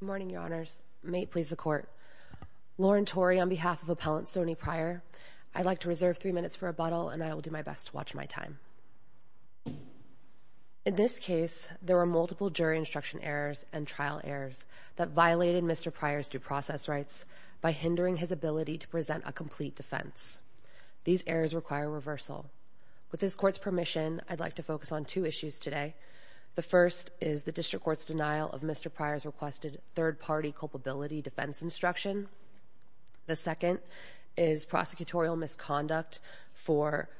Good morning, Your Honors. May it please the Court. Lauren Tory on behalf of Appellant Stoney Prior, I'd like to reserve three minutes for rebuttal and I will do my best to watch my time. In this case, there were multiple jury instruction errors and trial errors that violated Mr. Prior's due process rights by hindering his ability to present a complete defense. These errors require reversal. With this Court's permission, I'd like to focus on two issues today. The first is the District Court's denial of Mr. Prior's requested third-party culpability defense instruction. The second is prosecutorial misconduct for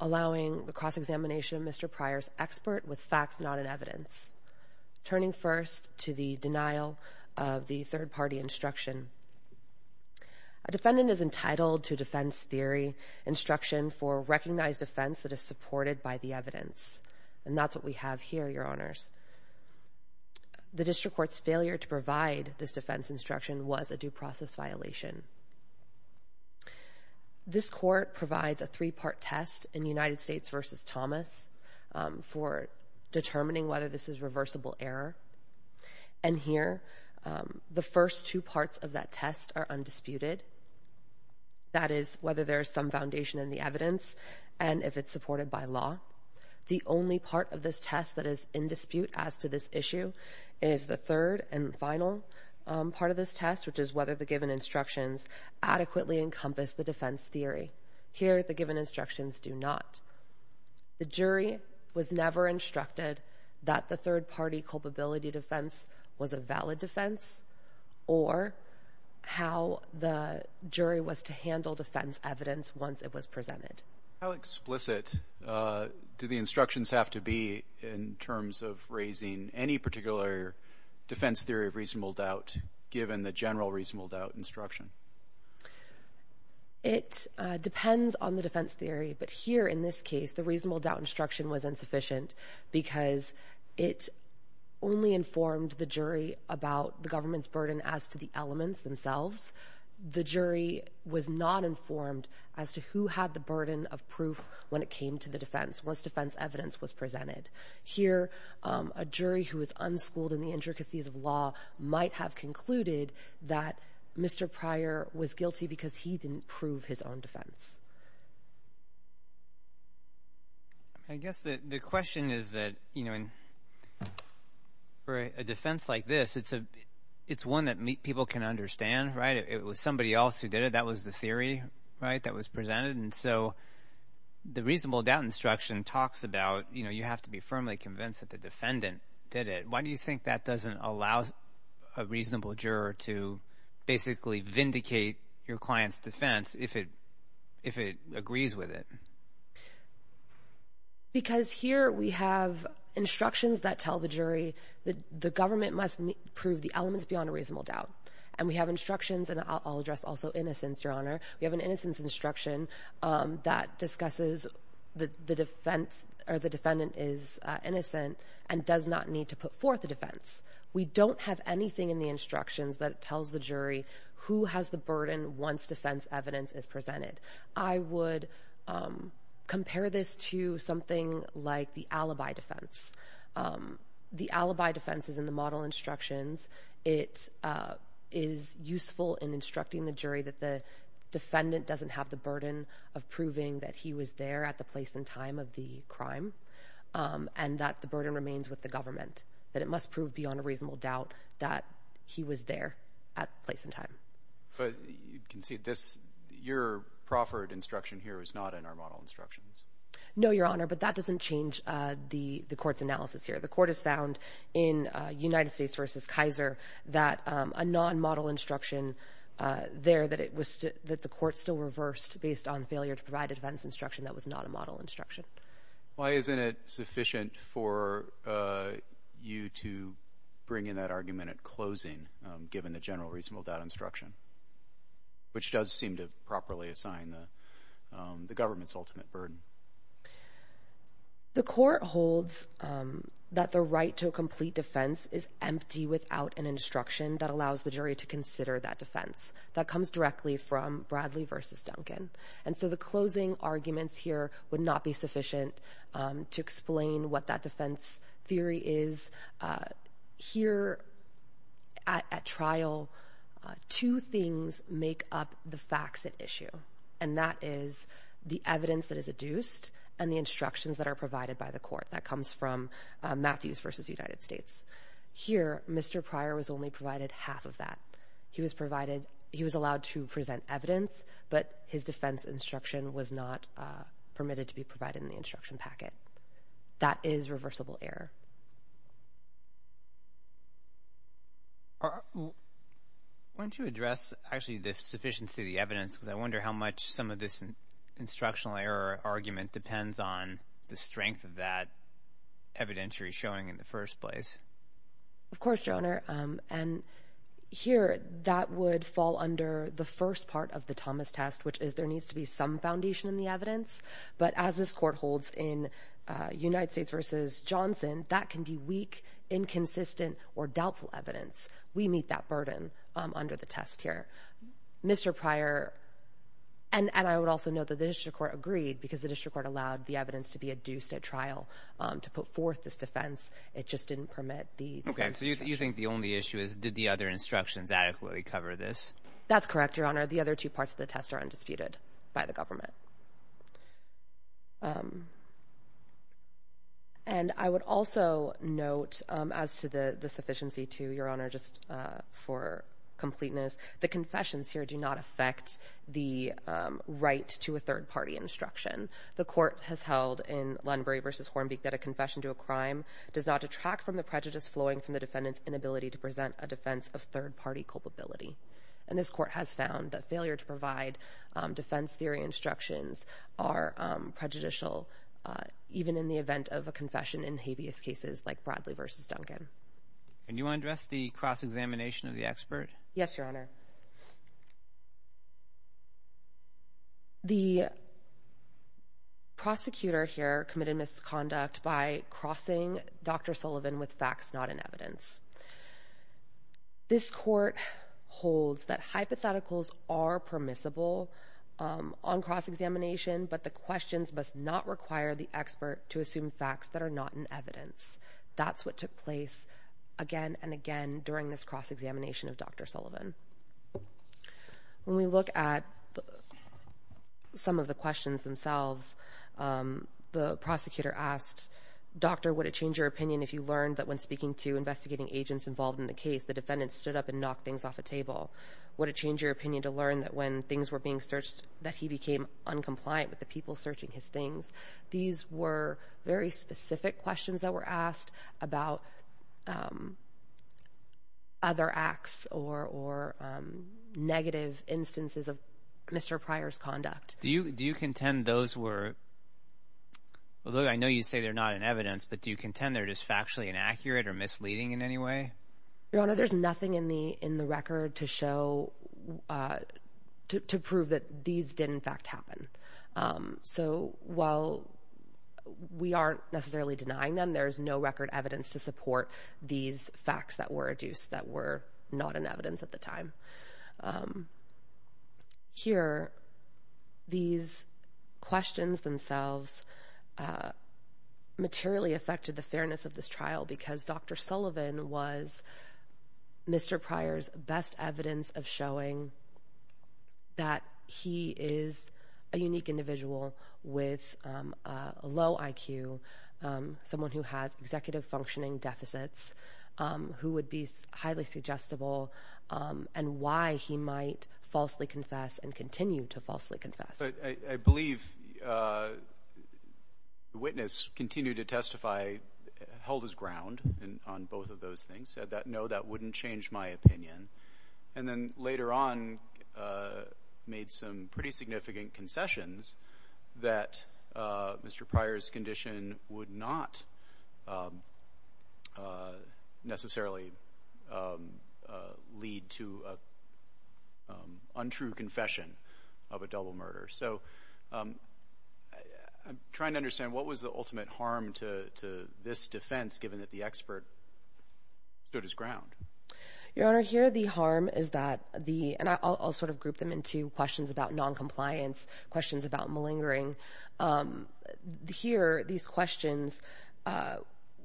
allowing the cross-examination of Mr. Prior's expert with facts not in evidence. Turning first to the denial of the third-party instruction, a defendant is entitled to defense theory instruction for a recognized offense that is supported by the evidence. And that's what we have here, Your Honors. The District Court's failure to provide this defense instruction was a due process violation. This Court provides a three-part test in United States v. Thomas for determining whether this is reversible error. And here, the first two parts of that test are undisputed. That is, whether there is some foundation in the evidence and if it's supported by law. The only part of this test that is in dispute as to this issue is the third and final part of this test, which is whether the given instructions adequately encompass the defense theory. Here, the given instructions do not. The jury was never instructed that the third-party culpability defense was a valid defense or how the jury was to handle defense evidence once it was presented. How explicit do the instructions have to be in terms of raising any particular defense theory of reasonable doubt given the general reasonable doubt instruction? It depends on the defense theory. But here, in this case, the reasonable doubt instruction was informed the jury about the government's burden as to the elements themselves. The jury was not informed as to who had the burden of proof when it came to the defense, once defense evidence was presented. Here, a jury who is unschooled in the intricacies of law might have concluded that Mr. Pryor was guilty because he didn't prove his own defense. I guess the question is that for a defense like this, it's one that people can understand. It was somebody else who did it. That was the theory that was presented. The reasonable doubt instruction talks about you have to be firmly convinced that the defendant did it. Why do you think that doesn't allow a reasonable juror to basically vindicate your client's defense if it agrees with it? Because here we have instructions that tell the jury that the government must prove the elements beyond a reasonable doubt. We have instructions, and I'll address also innocence, Your Honor. We have an innocence instruction that discusses the defense or the defendant is innocent and does not need to put forth a defense. We don't have anything in the instructions that tells the jury who has the burden once defense evidence is presented. I would compare this to something like the alibi defense. The alibi defense is in the model instructions. It is useful in instructing the jury that the defendant doesn't have the burden of proving that he was there at the place and time of the crime and that the burden remains with the government, that it must prove beyond a reasonable doubt that he was there at the place and time. But you can see this, your proffered instruction here is not in our model instructions. No, Your Honor, but that doesn't change the court's analysis here. The court has found in United States v. Kaiser that a non-model instruction there that the court still reversed based on failure to provide a defense instruction that was not a model instruction. Why isn't it sufficient for you to bring in that argument at closing, given the general reasonable doubt instruction, which does seem to properly assign the government's ultimate burden? The court holds that the right to a complete defense is empty without an instruction that is sufficient. And so the closing arguments here would not be sufficient to explain what that defense theory is. Here at trial, two things make up the facts at issue, and that is the evidence that is adduced and the instructions that are provided by the court. That comes from Matthews v. United States. Here, Mr. Pryor was only provided half of that. He was allowed to present evidence, but his defense instruction was not permitted to be provided in the instruction packet. That is reversible error. Why don't you address, actually, the sufficiency of the evidence, because I wonder how much some of this instructional error argument depends on the strength of that evidentiary showing in the first place. Of course, Your Honor. Here, that would fall under the first part of the Thomas test, which is there needs to be some foundation in the evidence. But as this court holds in United States v. Johnson, that can be weak, inconsistent, or doubtful evidence. We meet that burden under the test here. Mr. Pryor, and I would also note that the district court agreed, because the district court allowed the evidence to be adduced at trial to put forth this defense. It just didn't permit the defense instruction. Okay. So you think the only issue is did the other instructions adequately cover this? That's correct, Your Honor. The other two parts of the test are undisputed by the government. And I would also note, as to the sufficiency, too, Your Honor, just for completeness, the court has held in Lunbury v. Hornbeak that a confession to a crime does not detract from the prejudice flowing from the defendant's inability to present a defense of third-party culpability. And this court has found that failure to provide defense theory instructions are prejudicial, even in the event of a confession in habeas cases like Bradley v. Duncan. And you want to address the cross-examination of the expert? Yes, Your Honor. The prosecutor here committed misconduct by crossing Dr. Sullivan with facts not in evidence. This court holds that hypotheticals are permissible on cross-examination, but the questions must not require the expert to assume facts that are not in evidence. That's what took place again and again during this cross-examination of Dr. Sullivan. When we look at some of the questions themselves, the prosecutor asked, Doctor, would it change your opinion if you learned that when speaking to investigating agents involved in the case, the defendant stood up and knocked things off a table? Would it change your opinion to learn that when things were being searched, that he became uncompliant with the people searching his things? These were very specific questions that were asked about other acts or negative instances of Mr. Pryor's conduct. Do you contend those were, although I know you say they're not in evidence, but do you contend they're just factually inaccurate or misleading in any way? Your Honor, there's nothing in the record to show, to prove that these did in fact happen. While we aren't necessarily denying them, there's no record evidence to support these facts that were adduced that were not in evidence at the time. Here, these questions themselves materially affected the fairness of this trial because Dr. Sullivan was Mr. Pryor's best evidence of showing that he is a unique individual with a low IQ, someone who has executive functioning deficits, who would be highly suggestible, and why he might falsely confess and continue to falsely confess. I believe the witness continued to testify, held his ground on both of those things, said that no, that wouldn't change my opinion, and then later on made some pretty significant concessions that Mr. Pryor's condition would not necessarily lead to an untrue confession of a double murder. So I'm trying to understand what was the ultimate harm to this defense given that the expert stood his ground? Your Honor, here the harm is that the, and I'll sort of group them into questions about noncompliance, questions about malingering. Here, these questions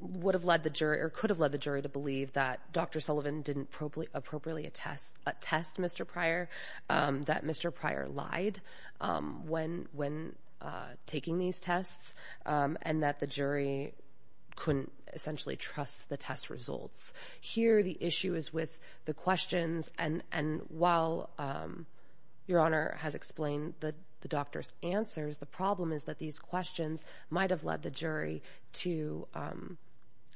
would have led the jury, or could have led the jury to believe that Dr. Sullivan didn't appropriately attest Mr. Pryor, that Mr. Pryor lied when taking these tests, and that the jury couldn't essentially trust the test results. Here, the issue is with the questions, and while Your Honor has explained the doctor's answers, the problem is that these questions might have led the jury to,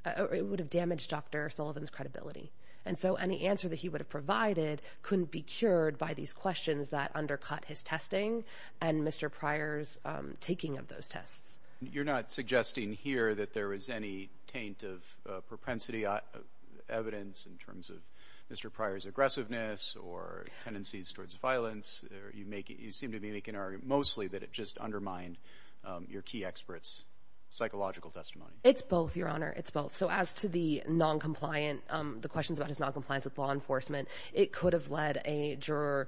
it would have damaged Dr. Sullivan's credibility. And so any answer that he would have provided couldn't be cured by these questions that undercut his testing and Mr. Pryor's taking of those tests. You're not suggesting here that there was any taint of propensity evidence in terms of Mr. Pryor's aggressiveness, or tendencies towards violence, you seem to be making an argument mostly that it just undermined your key expert's psychological testimony. It's both, Your Honor, it's both. So as to the noncompliance, the questions about his noncompliance with law enforcement, it could have led a juror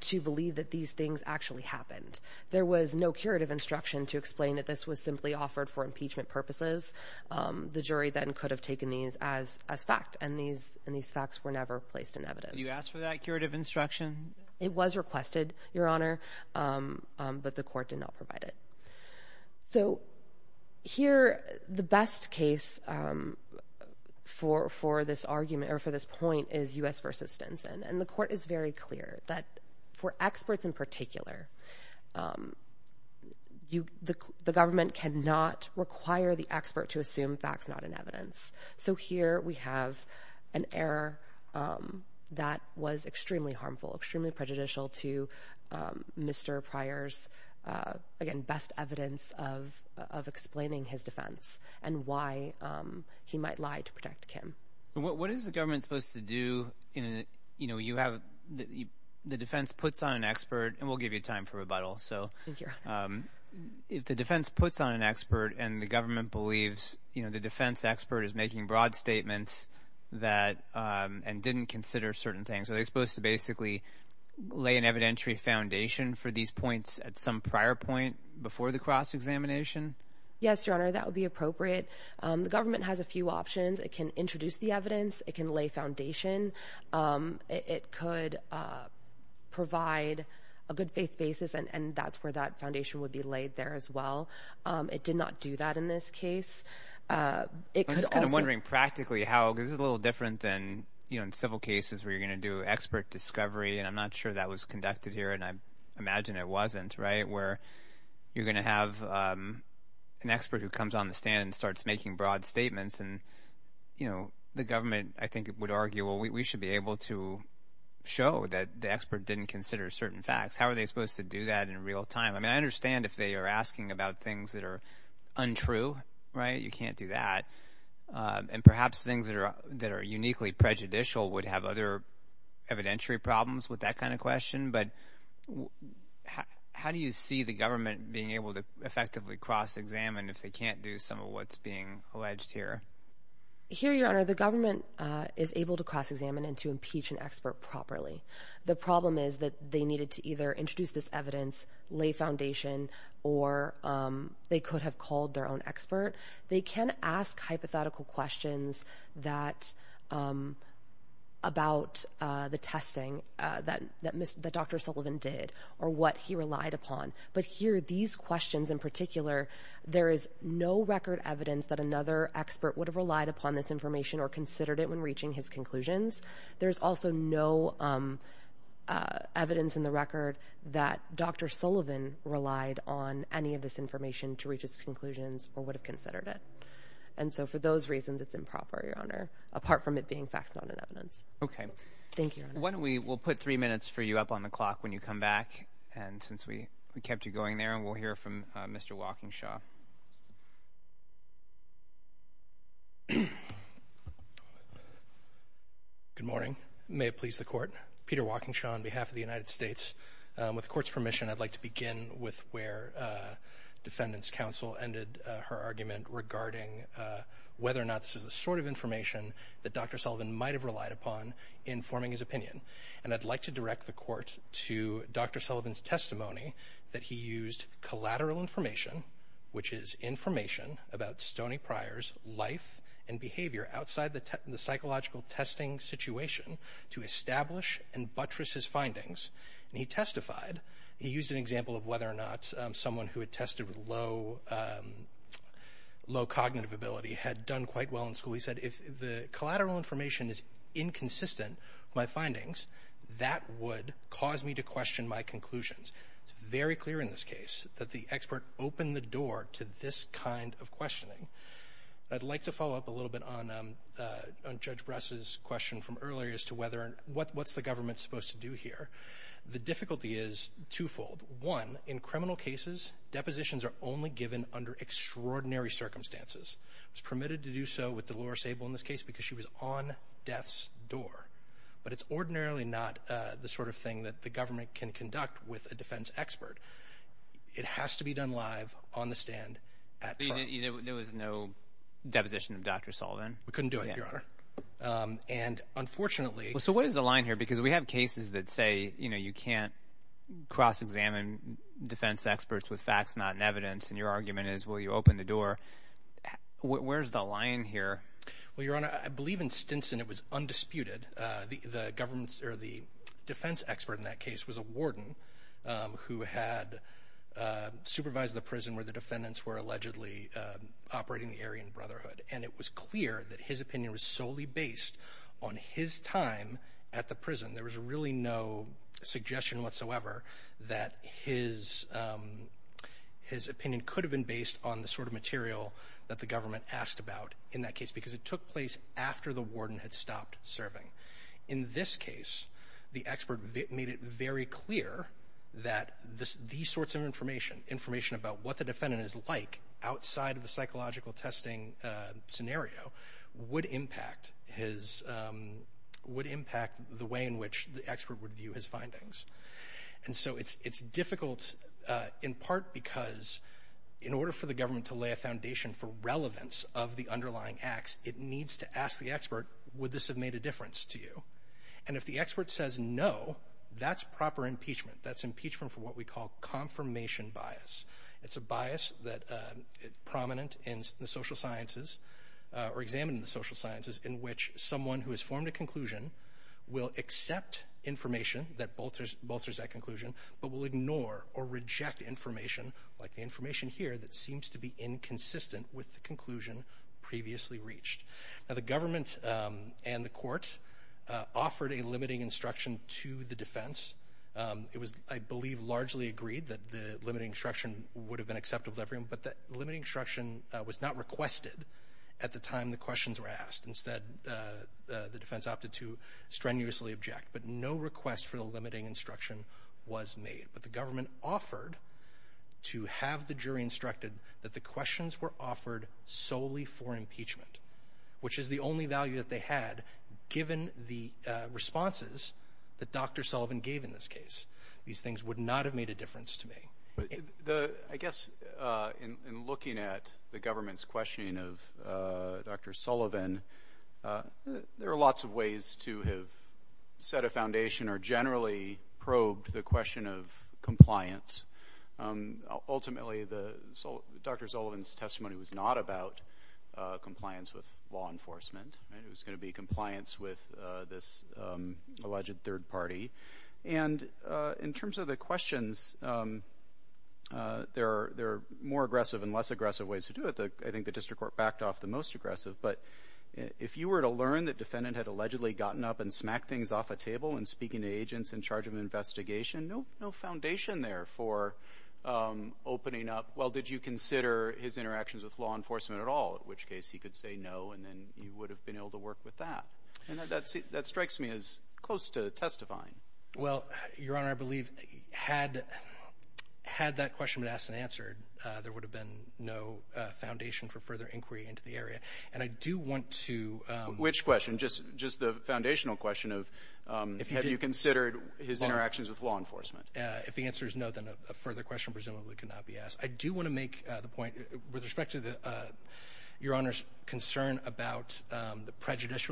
to believe that these things actually happened. There was no curative instruction to explain that this was simply offered for impeachment purposes. The jury then could have taken these as fact, and these facts were never placed in evidence. You asked for that curative instruction? It was requested, Your Honor, but the court did not provide it. So here, the best case for this argument, or for this point, is U.S. v. Stinson, and the court is very clear that for experts in particular, the government cannot require the expert to assume facts not in evidence. So here we have an error that was extremely harmful, extremely prejudicial to Mr. Pryor's, again, best evidence of explaining his defense, and why he might lie to protect Kim. What is the government supposed to do in a, you know, you have, the defense puts on an expert, and we'll give you time for rebuttal, so, if the defense puts on an expert, and the government believes, you know, the defense expert is making broad statements that, and didn't consider certain things, are they supposed to basically lay an evidentiary foundation for these points at some prior point before the cross-examination? Yes, Your Honor, that would be appropriate. The government has a few options. It can introduce the evidence. It can lay foundation. It could provide a good faith basis, and that's where that foundation would be laid there as well. It did not do that in this case. It could also- I'm just kind of wondering practically how, because this is a little different than, you know, in civil cases where you're going to do expert discovery, and I'm not sure that was conducted here, and I imagine it wasn't, right, where you're going to have an expert who comes on the stand and starts making broad statements, and, you know, the government, I think, would argue, well, we should be able to show that the expert didn't consider certain facts. How are they supposed to do that in real time? I mean, I understand if they are asking about things that are untrue, right? You can't do that, and perhaps things that are uniquely prejudicial would have other evidentiary problems with that kind of question, but how do you see the government being able to effectively cross-examine if they can't do some of what's being alleged here? Here, Your Honor, the government is able to cross-examine and to impeach an expert properly. The problem is that they needed to either introduce this evidence, lay foundation, or they could have called their own expert. They can ask hypothetical questions that- about the testing that Dr. Sullivan did or what he relied upon, but here, these questions in particular, there is no record evidence that another expert would have relied upon this information or considered it when reaching his conclusions. There's also no evidence in the record that Dr. Sullivan relied on any of this information to reach his conclusions or would have considered it, and so for those reasons, it's improper, Your Honor, apart from it being facts, not an evidence. Okay. Thank you, Your Honor. Why don't we- we'll put three minutes for you up on the clock when you come back, and since we kept you going there, and we'll hear from Mr. Walkingshaw. Good morning. May it please the Court. Peter Walkingshaw on behalf of the United States. With the Court's permission, I'd like to begin with where Defendant's Counsel ended her argument regarding whether or not this is the sort of information that Dr. Sullivan might have used in his opinion, and I'd like to direct the Court to Dr. Sullivan's testimony that he used collateral information, which is information about Stoney Pryor's life and behavior outside the psychological testing situation to establish and buttress his findings, and he testified. He used an example of whether or not someone who had tested with low cognitive ability had done quite well in school. He said, if the collateral information is inconsistent with my findings, that would cause me to question my conclusions. It's very clear in this case that the expert opened the door to this kind of questioning. I'd like to follow up a little bit on Judge Bress's question from earlier as to whether and what's the government supposed to do here. The difficulty is twofold. One, in criminal cases, depositions are only given under extraordinary circumstances. She was permitted to do so with Dolores Abel in this case because she was on death's door, but it's ordinarily not the sort of thing that the government can conduct with a defense expert. It has to be done live, on the stand, at trial. There was no deposition of Dr. Sullivan? We couldn't do it, Your Honor. And unfortunately... Well, so what is the line here? Because we have cases that say, you know, you can't cross-examine defense experts with open the door. Where's the line here? Well, Your Honor, I believe in Stinson it was undisputed. The defense expert in that case was a warden who had supervised the prison where the defendants were allegedly operating the Aryan Brotherhood, and it was clear that his opinion was solely based on his time at the prison. There was really no suggestion whatsoever that his opinion could have been based on the sort of material that the government asked about in that case because it took place after the warden had stopped serving. In this case, the expert made it very clear that these sorts of information, information about what the defendant is like outside of the psychological testing scenario, would impact the way in which the expert would view his findings. And so it's difficult in part because in order for the government to lay a foundation for relevance of the underlying acts, it needs to ask the expert, would this have made a difference to you? And if the expert says no, that's proper impeachment. That's impeachment for what we call confirmation bias. It's a bias that is prominent in the social sciences, or examined in the social sciences, in which someone who has formed a conclusion will accept information that bolsters that conclusion, but will ignore or reject information, like the information here, that seems to be inconsistent with the conclusion previously reached. Now, the government and the courts offered a limiting instruction to the defense. It was, I believe, largely agreed that the limiting instruction would have been acceptable to everyone, but the limiting instruction was not requested at the time the questions were asked. Instead, the defense opted to strenuously object, but no request for the limiting instruction was made. But the government offered to have the jury instructed that the questions were offered solely for impeachment, which is the only value that they had given the responses that Dr. Sullivan gave in this case. These things would not have made a difference to me. I guess, in looking at the government's questioning of Dr. Sullivan, there are lots of ways to have set a foundation or generally probed the question of compliance. Ultimately, Dr. Sullivan's testimony was not about compliance with law enforcement. It was going to be compliance with this alleged third party. And in terms of the questions, there are more aggressive and less aggressive ways to do it. I think the district court backed off the most aggressive. But if you were to learn that the defendant had allegedly gotten up and smacked things off a table and speaking to agents in charge of an investigation, no foundation there for opening up, well, did you consider his interactions with law enforcement at all, in which case he could say no and then you would have been able to work with that. And that strikes me as close to testifying. Well, Your Honor, I believe had that question been asked and answered, there would have been no foundation for further inquiry into the area. And I do want to. Which question? Just the foundational question of, have you considered his interactions with law enforcement? If the answer is no, then a further question presumably could not be asked. I do want to make the point with respect to Your Honor's concern about the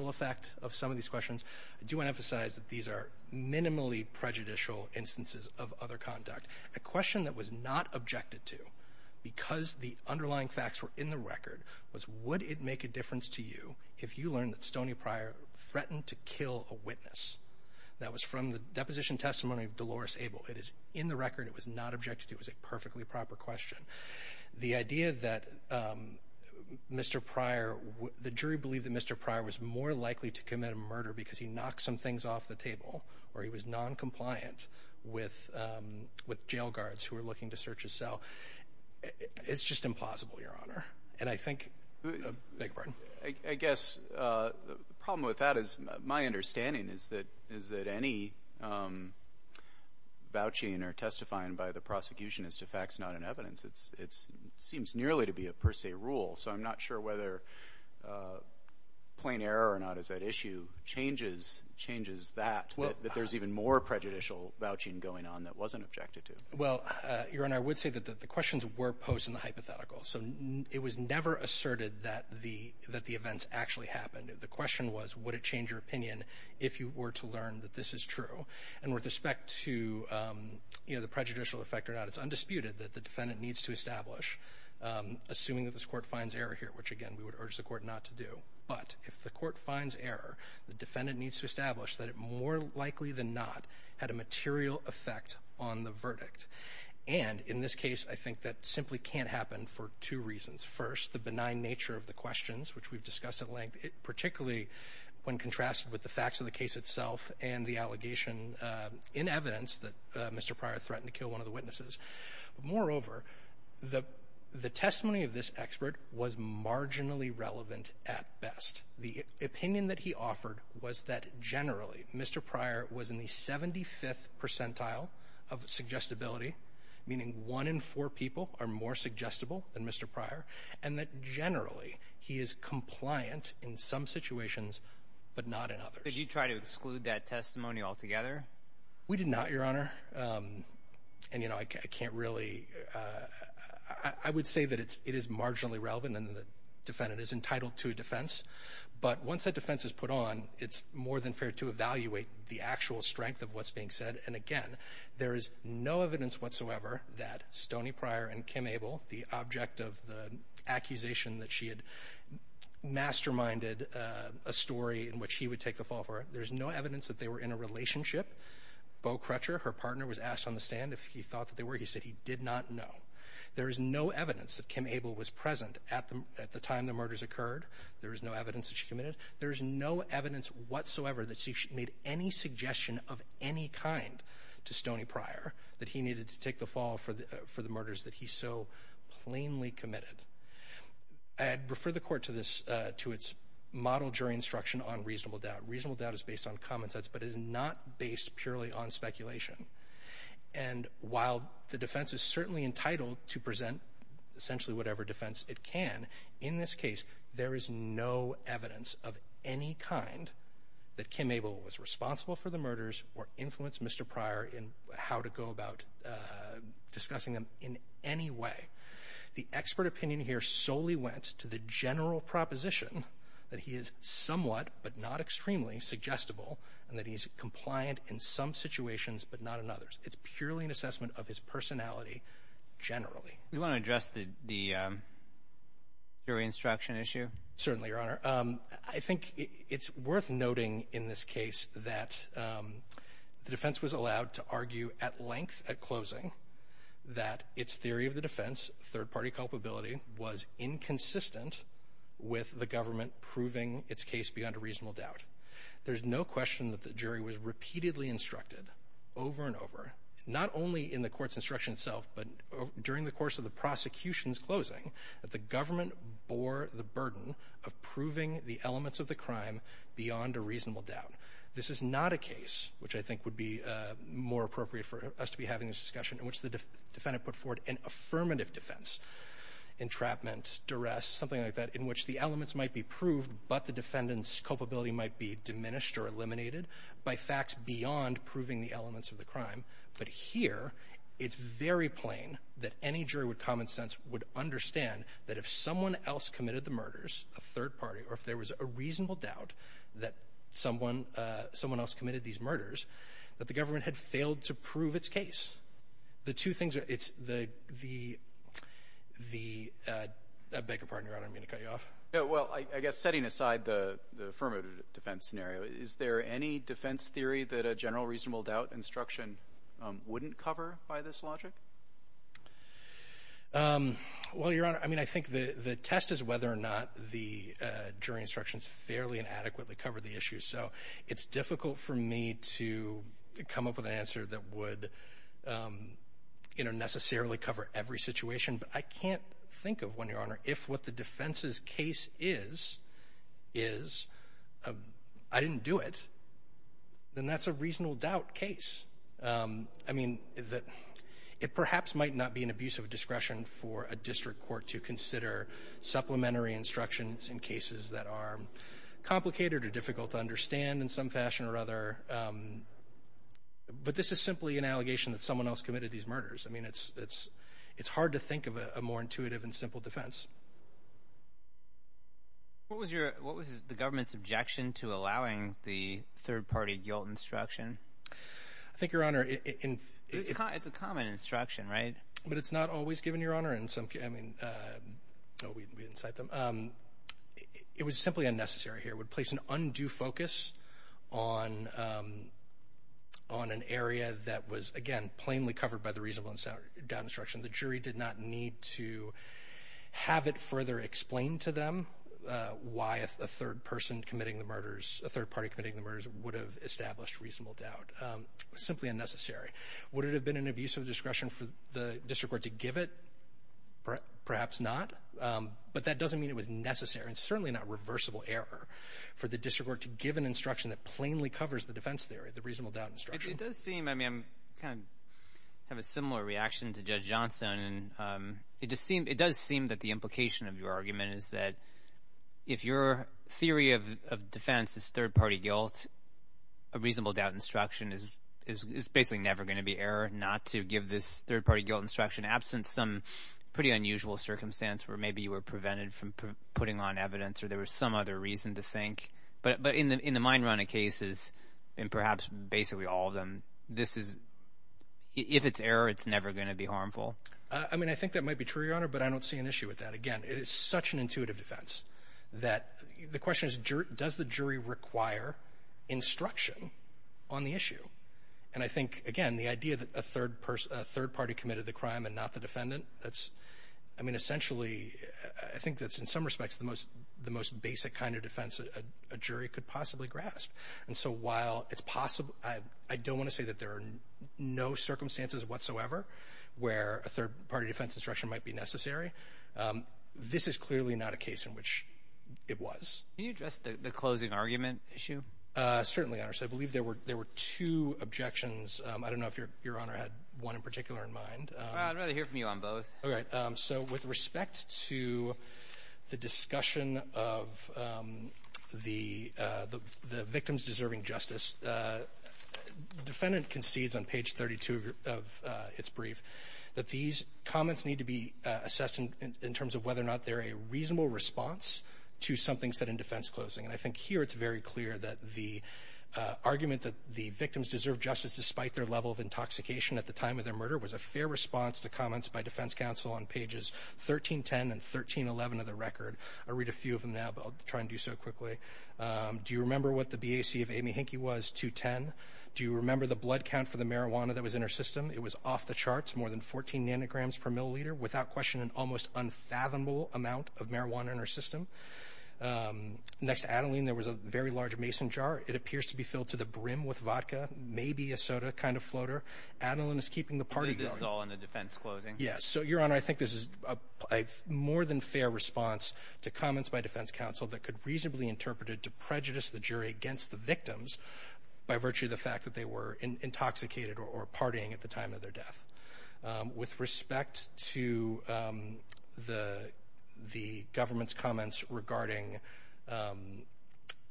impact of some of these questions, I do want to emphasize that these are minimally prejudicial instances of other conduct. A question that was not objected to because the underlying facts were in the record was, would it make a difference to you if you learned that Stoney Pryor threatened to kill a witness? That was from the deposition testimony of Dolores Abel. It is in the record. It was not objected to. It was a perfectly proper question. The idea that Mr. Pryor, the jury believed that Mr. Pryor was more likely to commit a murder because he knocked some things off the table or he was noncompliant with with jail guards who are looking to search his cell. It's just implausible, Your Honor. And I think I guess the problem with that is my understanding is that is that any vouching or testifying by the prosecution as to facts, not an evidence. It's it's seems nearly to be a per se rule. So I'm not sure whether plain error or not is that issue changes changes that that there's even more prejudicial vouching going on that wasn't objected to. Well, Your Honor, I would say that the questions were posed in the hypothetical. So it was never asserted that the that the events actually happened. The question was, would it change your opinion if you were to learn that this is true? And with respect to the prejudicial effect or not, it's undisputed that the defendant needs to establish, assuming that this court finds error here, which, again, we would urge the court not to do. But if the court finds error, the defendant needs to establish that it more likely than not had a material effect on the verdict. And in this case, I think that simply can't happen for two reasons. First, the benign nature of the questions, which we've discussed at length, particularly when contrasted with the facts of the case itself and the allegation in evidence that Mr. Pryor threatened to kill one of the witnesses. Moreover, the the testimony of this expert was marginally relevant at best. The opinion that he offered was that generally Mr. Pryor was in the 75th percentile of the suggestibility, meaning one in four people are more suggestible than Mr. Pryor and that generally he is compliant in some situations, but not in others. Did you try to exclude that testimony altogether? We did not, Your Honor. And, you know, I can't really I would say that it's it is marginally relevant and the defendant is entitled to a defense. But once that defense is put on, it's more than fair to evaluate the actual strength of what's being said. And again, there is no evidence whatsoever that Stoney Pryor and Kim Abel, the object of the accusation that she had masterminded a story in which he would take the fall for it. There's no evidence that they were in a relationship. Beau Crutcher, her partner, was asked on the stand if he thought that they were. He said he did not know. There is no evidence that Kim Abel was present at the time the murders occurred. There is no evidence that she committed. There is no evidence whatsoever that she made any suggestion of any kind to Stoney Pryor that he needed to take the fall for the for the murders that he so plainly committed. I'd refer the court to this to its model jury instruction on reasonable doubt. Reasonable doubt is based on common sense, but it is not based purely on speculation. And while the defense is certainly entitled to present essentially whatever defense it can in this case, there is no evidence of any kind that Kim Abel was responsible for the murders or influenced Mr. Pryor in how to go about discussing them in any way. The expert opinion here solely went to the general proposition that he is somewhat but not extremely suggestible and that he's compliant in some situations, but not in others. It's purely an assessment of his personality. Generally, we want to address the jury instruction issue. Certainly, Your Honor. I think it's worth noting in this case that the defense was allowed to argue at length at closing that its theory of the defense third party culpability was inconsistent with the government proving its case beyond a reasonable doubt. There's no question that the jury was repeatedly instructed over and over, not only in the court's instruction itself, but during the course of the prosecution's closing, that the government bore the burden of proving the elements of the crime beyond a reasonable doubt. This is not a case which I think would be more appropriate for us to be having a discussion in which the defendant put forward an affirmative defense, entrapment, duress, something like that, in which the elements might be proved, but the defendant's culpability might be diminished or eliminated by facts beyond proving the elements of the crime. But here, it's very plain that any jury with common sense would understand that if someone else committed the murders, a third party, or if there was a reasonable doubt that someone else committed these murders, that the government had failed to prove its case. The two things are, it's the, the, the, uh, I beg your pardon, Your Honor, I didn't mean to cut you off. Yeah, well, I guess setting aside the affirmative defense scenario, is there any defense theory that a general reasonable doubt instruction wouldn't cover by this logic? Um, well, Your Honor, I mean, I think the test is whether or not the jury instructions fairly and adequately covered the issue. So it's difficult for me to come up with an answer that would, um, you know, necessarily cover every situation. But I can't think of one, Your Honor, if what the defense's case is, is, uh, I didn't do it, then that's a reasonable doubt case. Um, I mean, that it perhaps might not be an abuse of discretion for a district court to understand in some fashion or other. Um, but this is simply an allegation that someone else committed these murders. I mean, it's, it's, it's hard to think of a more intuitive and simple defense. What was your, what was the government's objection to allowing the third party guilt instruction? I think, Your Honor, it's a common instruction, right? But it's not always given, Your Honor. And some, I mean, uh, no, we didn't cite them. Um, it was simply unnecessary here. It would place an undue focus on, um, on an area that was, again, plainly covered by the reasonable doubt instruction. The jury did not need to have it further explained to them, uh, why a third person committing the murders, a third party committing the murders would have established reasonable doubt. Um, simply unnecessary. Would it have been an abuse of discretion for the district court to give it? Perhaps not. Um, but that doesn't mean it was necessary and certainly not reversible error. For the district court to give an instruction that plainly covers the defense theory, the reasonable doubt instruction. It does seem, I mean, I'm kind of have a similar reaction to Judge Johnson. And, um, it just seemed, it does seem that the implication of your argument is that if your theory of defense is third party guilt, a reasonable doubt instruction is, is, is basically never going to be error not to give this third party guilt instruction absent some pretty unusual circumstance where maybe you were prevented from putting on evidence or there was some other reason to think, but, but in the, in the mind running cases and perhaps basically all of them, this is if it's error, it's never going to be harmful. Uh, I mean, I think that might be true, Your Honor, but I don't see an issue with that. Again, it is such an intuitive defense that the question is does the jury require instruction on the issue? And I think, again, the idea that a third person, a third party committed the crime and not the defendant, that's, I mean, essentially, I think that's in some respects the most, the most basic kind of defense a jury could possibly grasp. And so while it's possible, I don't want to say that there are no circumstances whatsoever where a third party defense instruction might be necessary. Um, this is clearly not a case in which it was. Can you address the closing argument issue? Uh, certainly, Your Honor. So I believe there were, there were two objections. Um, I don't know if you're, Your Honor had one in particular in mind. Uh, I'd rather hear from you on both. All right. Um, so with respect to the discussion of, um, the, uh, the, the victims deserving justice, uh, defendant concedes on page 32 of, uh, it's brief that these comments need to be assessed in terms of whether or not they're a reasonable response to something set in defense closing. And I think here it's very clear that the, uh, argument that the victims deserve justice despite their level of intoxication at the time of their murder was a fair response to comments by defense counsel on pages 1310 and 1311 of the record. I read a few of them now, but I'll try and do so quickly. Um, do you remember what the BAC of Amy Hinckley was to 10? Do you remember the blood count for the marijuana that was in her system? It was off the charts more than 14 nanograms per milliliter without question and almost unfathomable amount of marijuana in her system. Um, next Adeline, there was a very large Mason jar. It appears to be filled to the brim with vodka, maybe a soda kind of floater. Adeline is keeping the party going. It's all in the defense closing. Yes. So your honor, I think this is a more than fair response to comments by defense counsel that could reasonably interpreted to prejudice the jury against the victims by virtue of the fact that they were intoxicated or partying at the time of their death, um, with respect to, um, the, the government's comments regarding, um,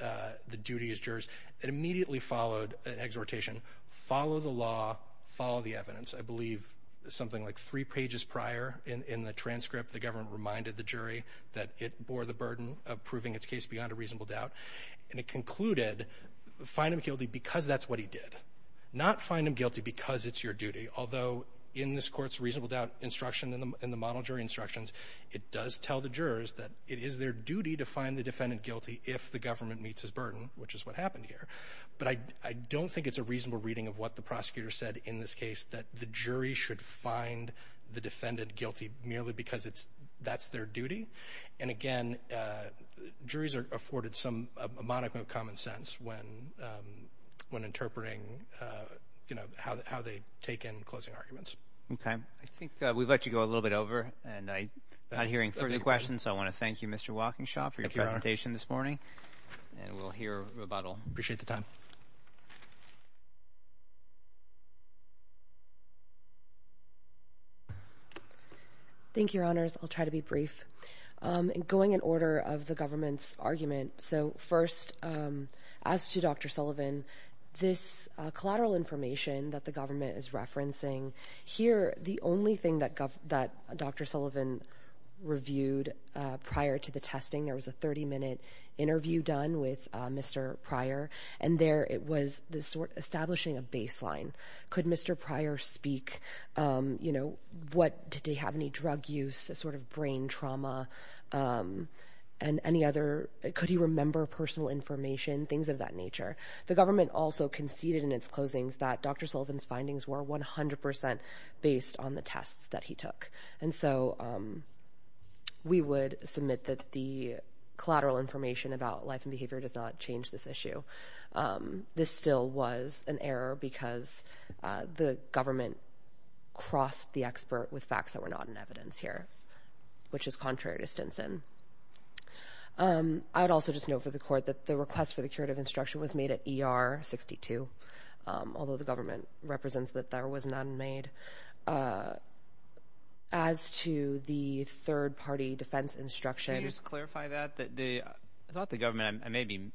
uh, the duty as jurors that immediately followed an exhortation. Follow the law, follow the evidence. I believe something like three pages prior in, in the transcript, the government reminded the jury that it bore the burden of proving its case beyond a reasonable doubt, and it concluded find him guilty because that's what he did not find him guilty because it's your duty. Although in this court's reasonable doubt instruction in the, in the model jury instructions, it does tell the jurors that it is their duty to find the defendant guilty if the government meets his burden, which is what happened here. But I, I don't think it's a reasonable reading of what the prosecutor said in this case, that the jury should find the defendant guilty merely because it's, that's their duty. And again, uh, juries are afforded some, a modicum of common sense when, um, when interpreting, uh, you know, how, how they take in closing arguments. Okay. I think we've let you go a little bit over and I not hearing further questions. So I want to thank you, Mr. Walking shop for your presentation this morning and we'll hear rebuttal. Appreciate the time. Thank you, your honors. I'll try to be brief. Um, and going in order of the government's argument. So first, um, as to Dr. Sullivan, this, uh, collateral information that the government is referencing here, the only thing that gov that Dr. Sullivan reviewed, uh, prior to the testing, there was a 30 minute interview done with, uh, Mr. Could Mr. Prior, uh, establish a baseline? Could Mr. Prior speak, um, you know, what did he have any drug use, a sort of brain trauma? Um, and any other, could he remember personal information, things of that nature, the government also conceded in its closings that Dr. Sullivan's findings were 100% based on the tests that he took. And so, um, we would submit that the collateral information about life and behavior does not change this issue. Um, this still was an error because, uh, the government crossed the expert with facts that were not in evidence here, which is contrary to Stinson. Um, I would also just know for the court that the request for the curative instruction was made at ER 62. Um, although the government represents that there was none made, uh, as to the third party defense instruction. Can you just clarify that, that the, I thought the government, I may be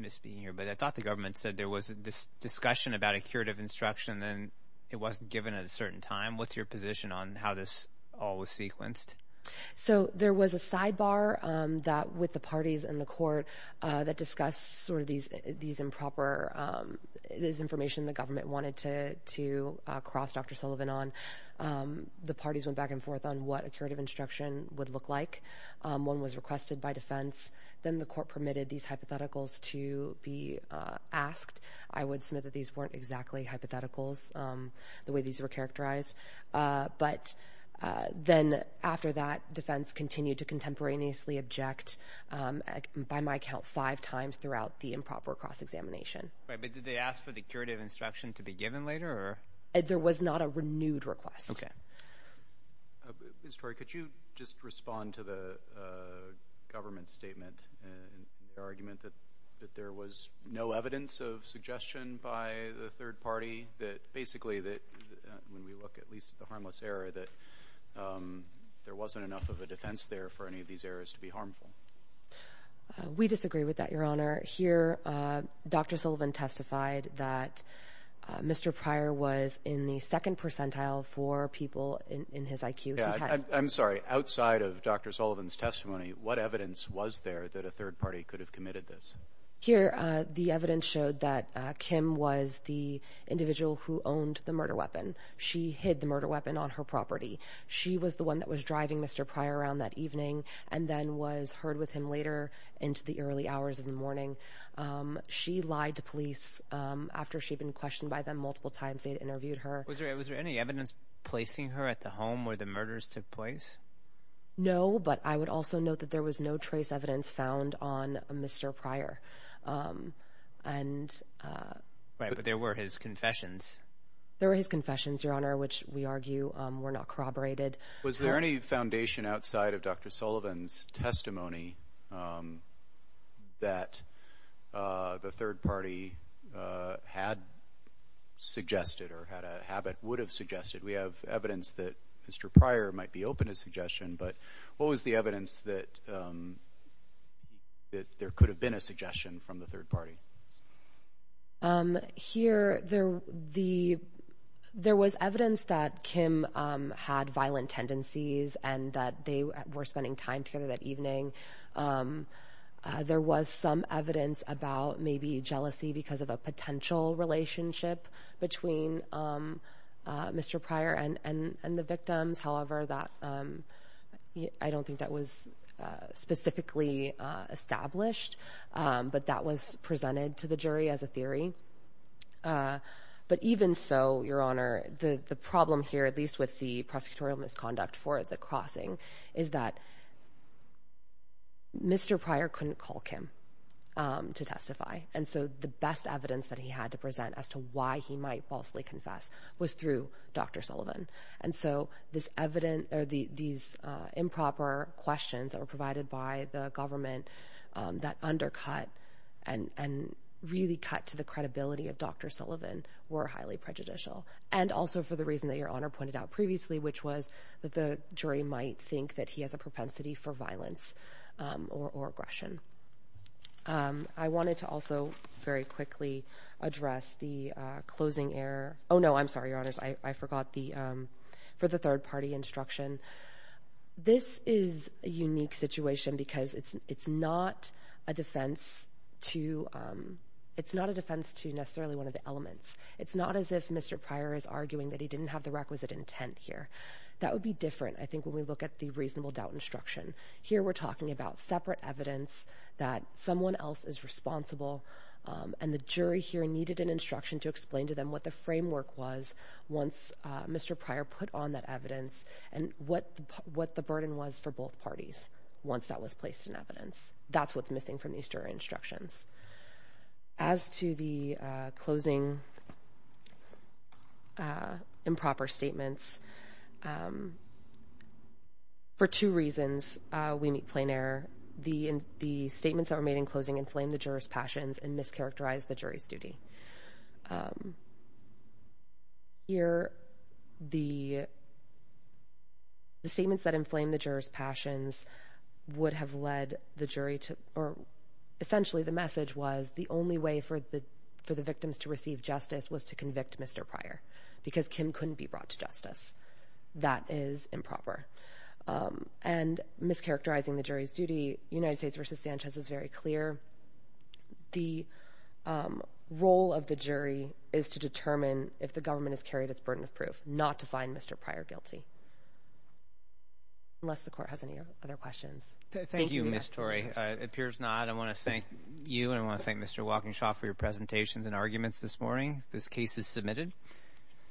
misspeaking here, but I thought the government said there was this discussion about a curative instruction and it wasn't given at a certain time. What's your position on how this all was sequenced? So there was a sidebar, um, that with the parties and the court, uh, that discussed sort of these, these improper, um, this information the government wanted to, to, uh, cross Dr. Sullivan on, um, the parties went back and forth on what a curative instruction would look like. Um, one was requested by defense. Then the court permitted these hypotheticals to be, uh, asked. I would say that these weren't exactly hypotheticals, um, the way these were characterized. Uh, but, uh, then after that defense continued to contemporaneously object, um, by my count five times throughout the improper cross examination. Right. But did they ask for the curative instruction to be given later or? There was not a renewed request. Okay. Mr. Tory, could you just respond to the, uh, government statement and the argument that, that there was no evidence of suggestion by the third party that basically that, uh, when we look at least at the harmless error, that, um, there wasn't enough of a defense there for any of these areas to be harmful. Uh, we disagree with that. Your honor here, uh, Dr. Sullivan testified that, uh, Mr. Pryor was in the second percentile for people in his IQ. I'm sorry, outside of Dr. Sullivan's testimony, what evidence was there that a third party could have committed this? Here, uh, the evidence showed that, uh, Kim was the individual who owned the murder weapon. She hid the murder weapon on her property. She was the one that was driving Mr. Pryor around that evening and then was heard with him later into the early hours of the morning. Um, she lied to police, um, after she'd been questioned by them multiple times, they'd interviewed her. Was there, was there any evidence placing her at the home where the murders took place? No, but I would also note that there was no trace evidence found on Mr. Pryor. Um, and, uh, right. But there were his confessions. There were his confessions, your honor, which we argue, um, were not corroborated. Was there any foundation outside of Dr. Sullivan's testimony, um, that, uh, the third party, uh, had suggested or had a habit would have suggested we have evidence that Mr. Pryor might be open to suggestion, but what was the evidence that, um, that there could have been a suggestion from the third party? Um, here there, the, there was evidence that Kim, um, had time together that evening. Um, uh, there was some evidence about maybe jealousy because of a potential relationship between, um, uh, Mr. Pryor and, and, and the victims. However, that, um, I don't think that was, uh, specifically, uh, established, um, but that was presented to the jury as a theory. Uh, but even so your honor, the, the problem here, at least with the prosecutorial misconduct for the crossing is that Mr. Pryor couldn't call Kim, um, to testify. And so the best evidence that he had to present as to why he might falsely confess was through Dr. Sullivan. And so this evident or the, these, uh, improper questions that were provided by the government, um, that undercut and, and really cut to the credibility of Dr. Sullivan were highly prejudicial. And also for the reason that your honor pointed out previously, which was that the jury might think that he has a propensity for violence, um, or, or aggression. Um, I wanted to also very quickly address the, uh, closing error. Oh no, I'm sorry, your honors. I forgot the, um, for the third party instruction. This is a unique situation because it's, it's not a defense to, um, it's not a defense to necessarily one of the elements. It's not as if Mr. Pryor is arguing that he didn't have the requisite intent here. That would be different. I think when we look at the reasonable doubt instruction here, we're talking about separate evidence that someone else is responsible. Um, and the jury here needed an instruction to explain to them what the framework was once, uh, Mr. Pryor put on that evidence and what, what the burden was for both parties, once that was placed in evidence, that's what's missing from these jury instructions. As to the, uh, closing, uh, improper statements, um, for two reasons, uh, we meet plain error, the, the statements that were made in closing inflamed the jurors passions and mischaracterized the jury's duty. Um, here, the, the statements that inflamed the jurors passions would have led the jury to, or essentially the message was the only way for the, for the victims to receive justice was to convict Mr. Pryor because Kim couldn't be brought to justice. That is improper. Um, and mischaracterizing the jury's duty. United States versus Sanchez is very clear. The, um, role of the jury is to determine if the government has carried its burden of proof, not to find Mr. Pryor guilty unless the court has any other questions. Thank you. Miss Torrey appears not. I want to thank you. And I want to thank Mr. Walkinshaw for your presentations and arguments this morning. This case is submitted.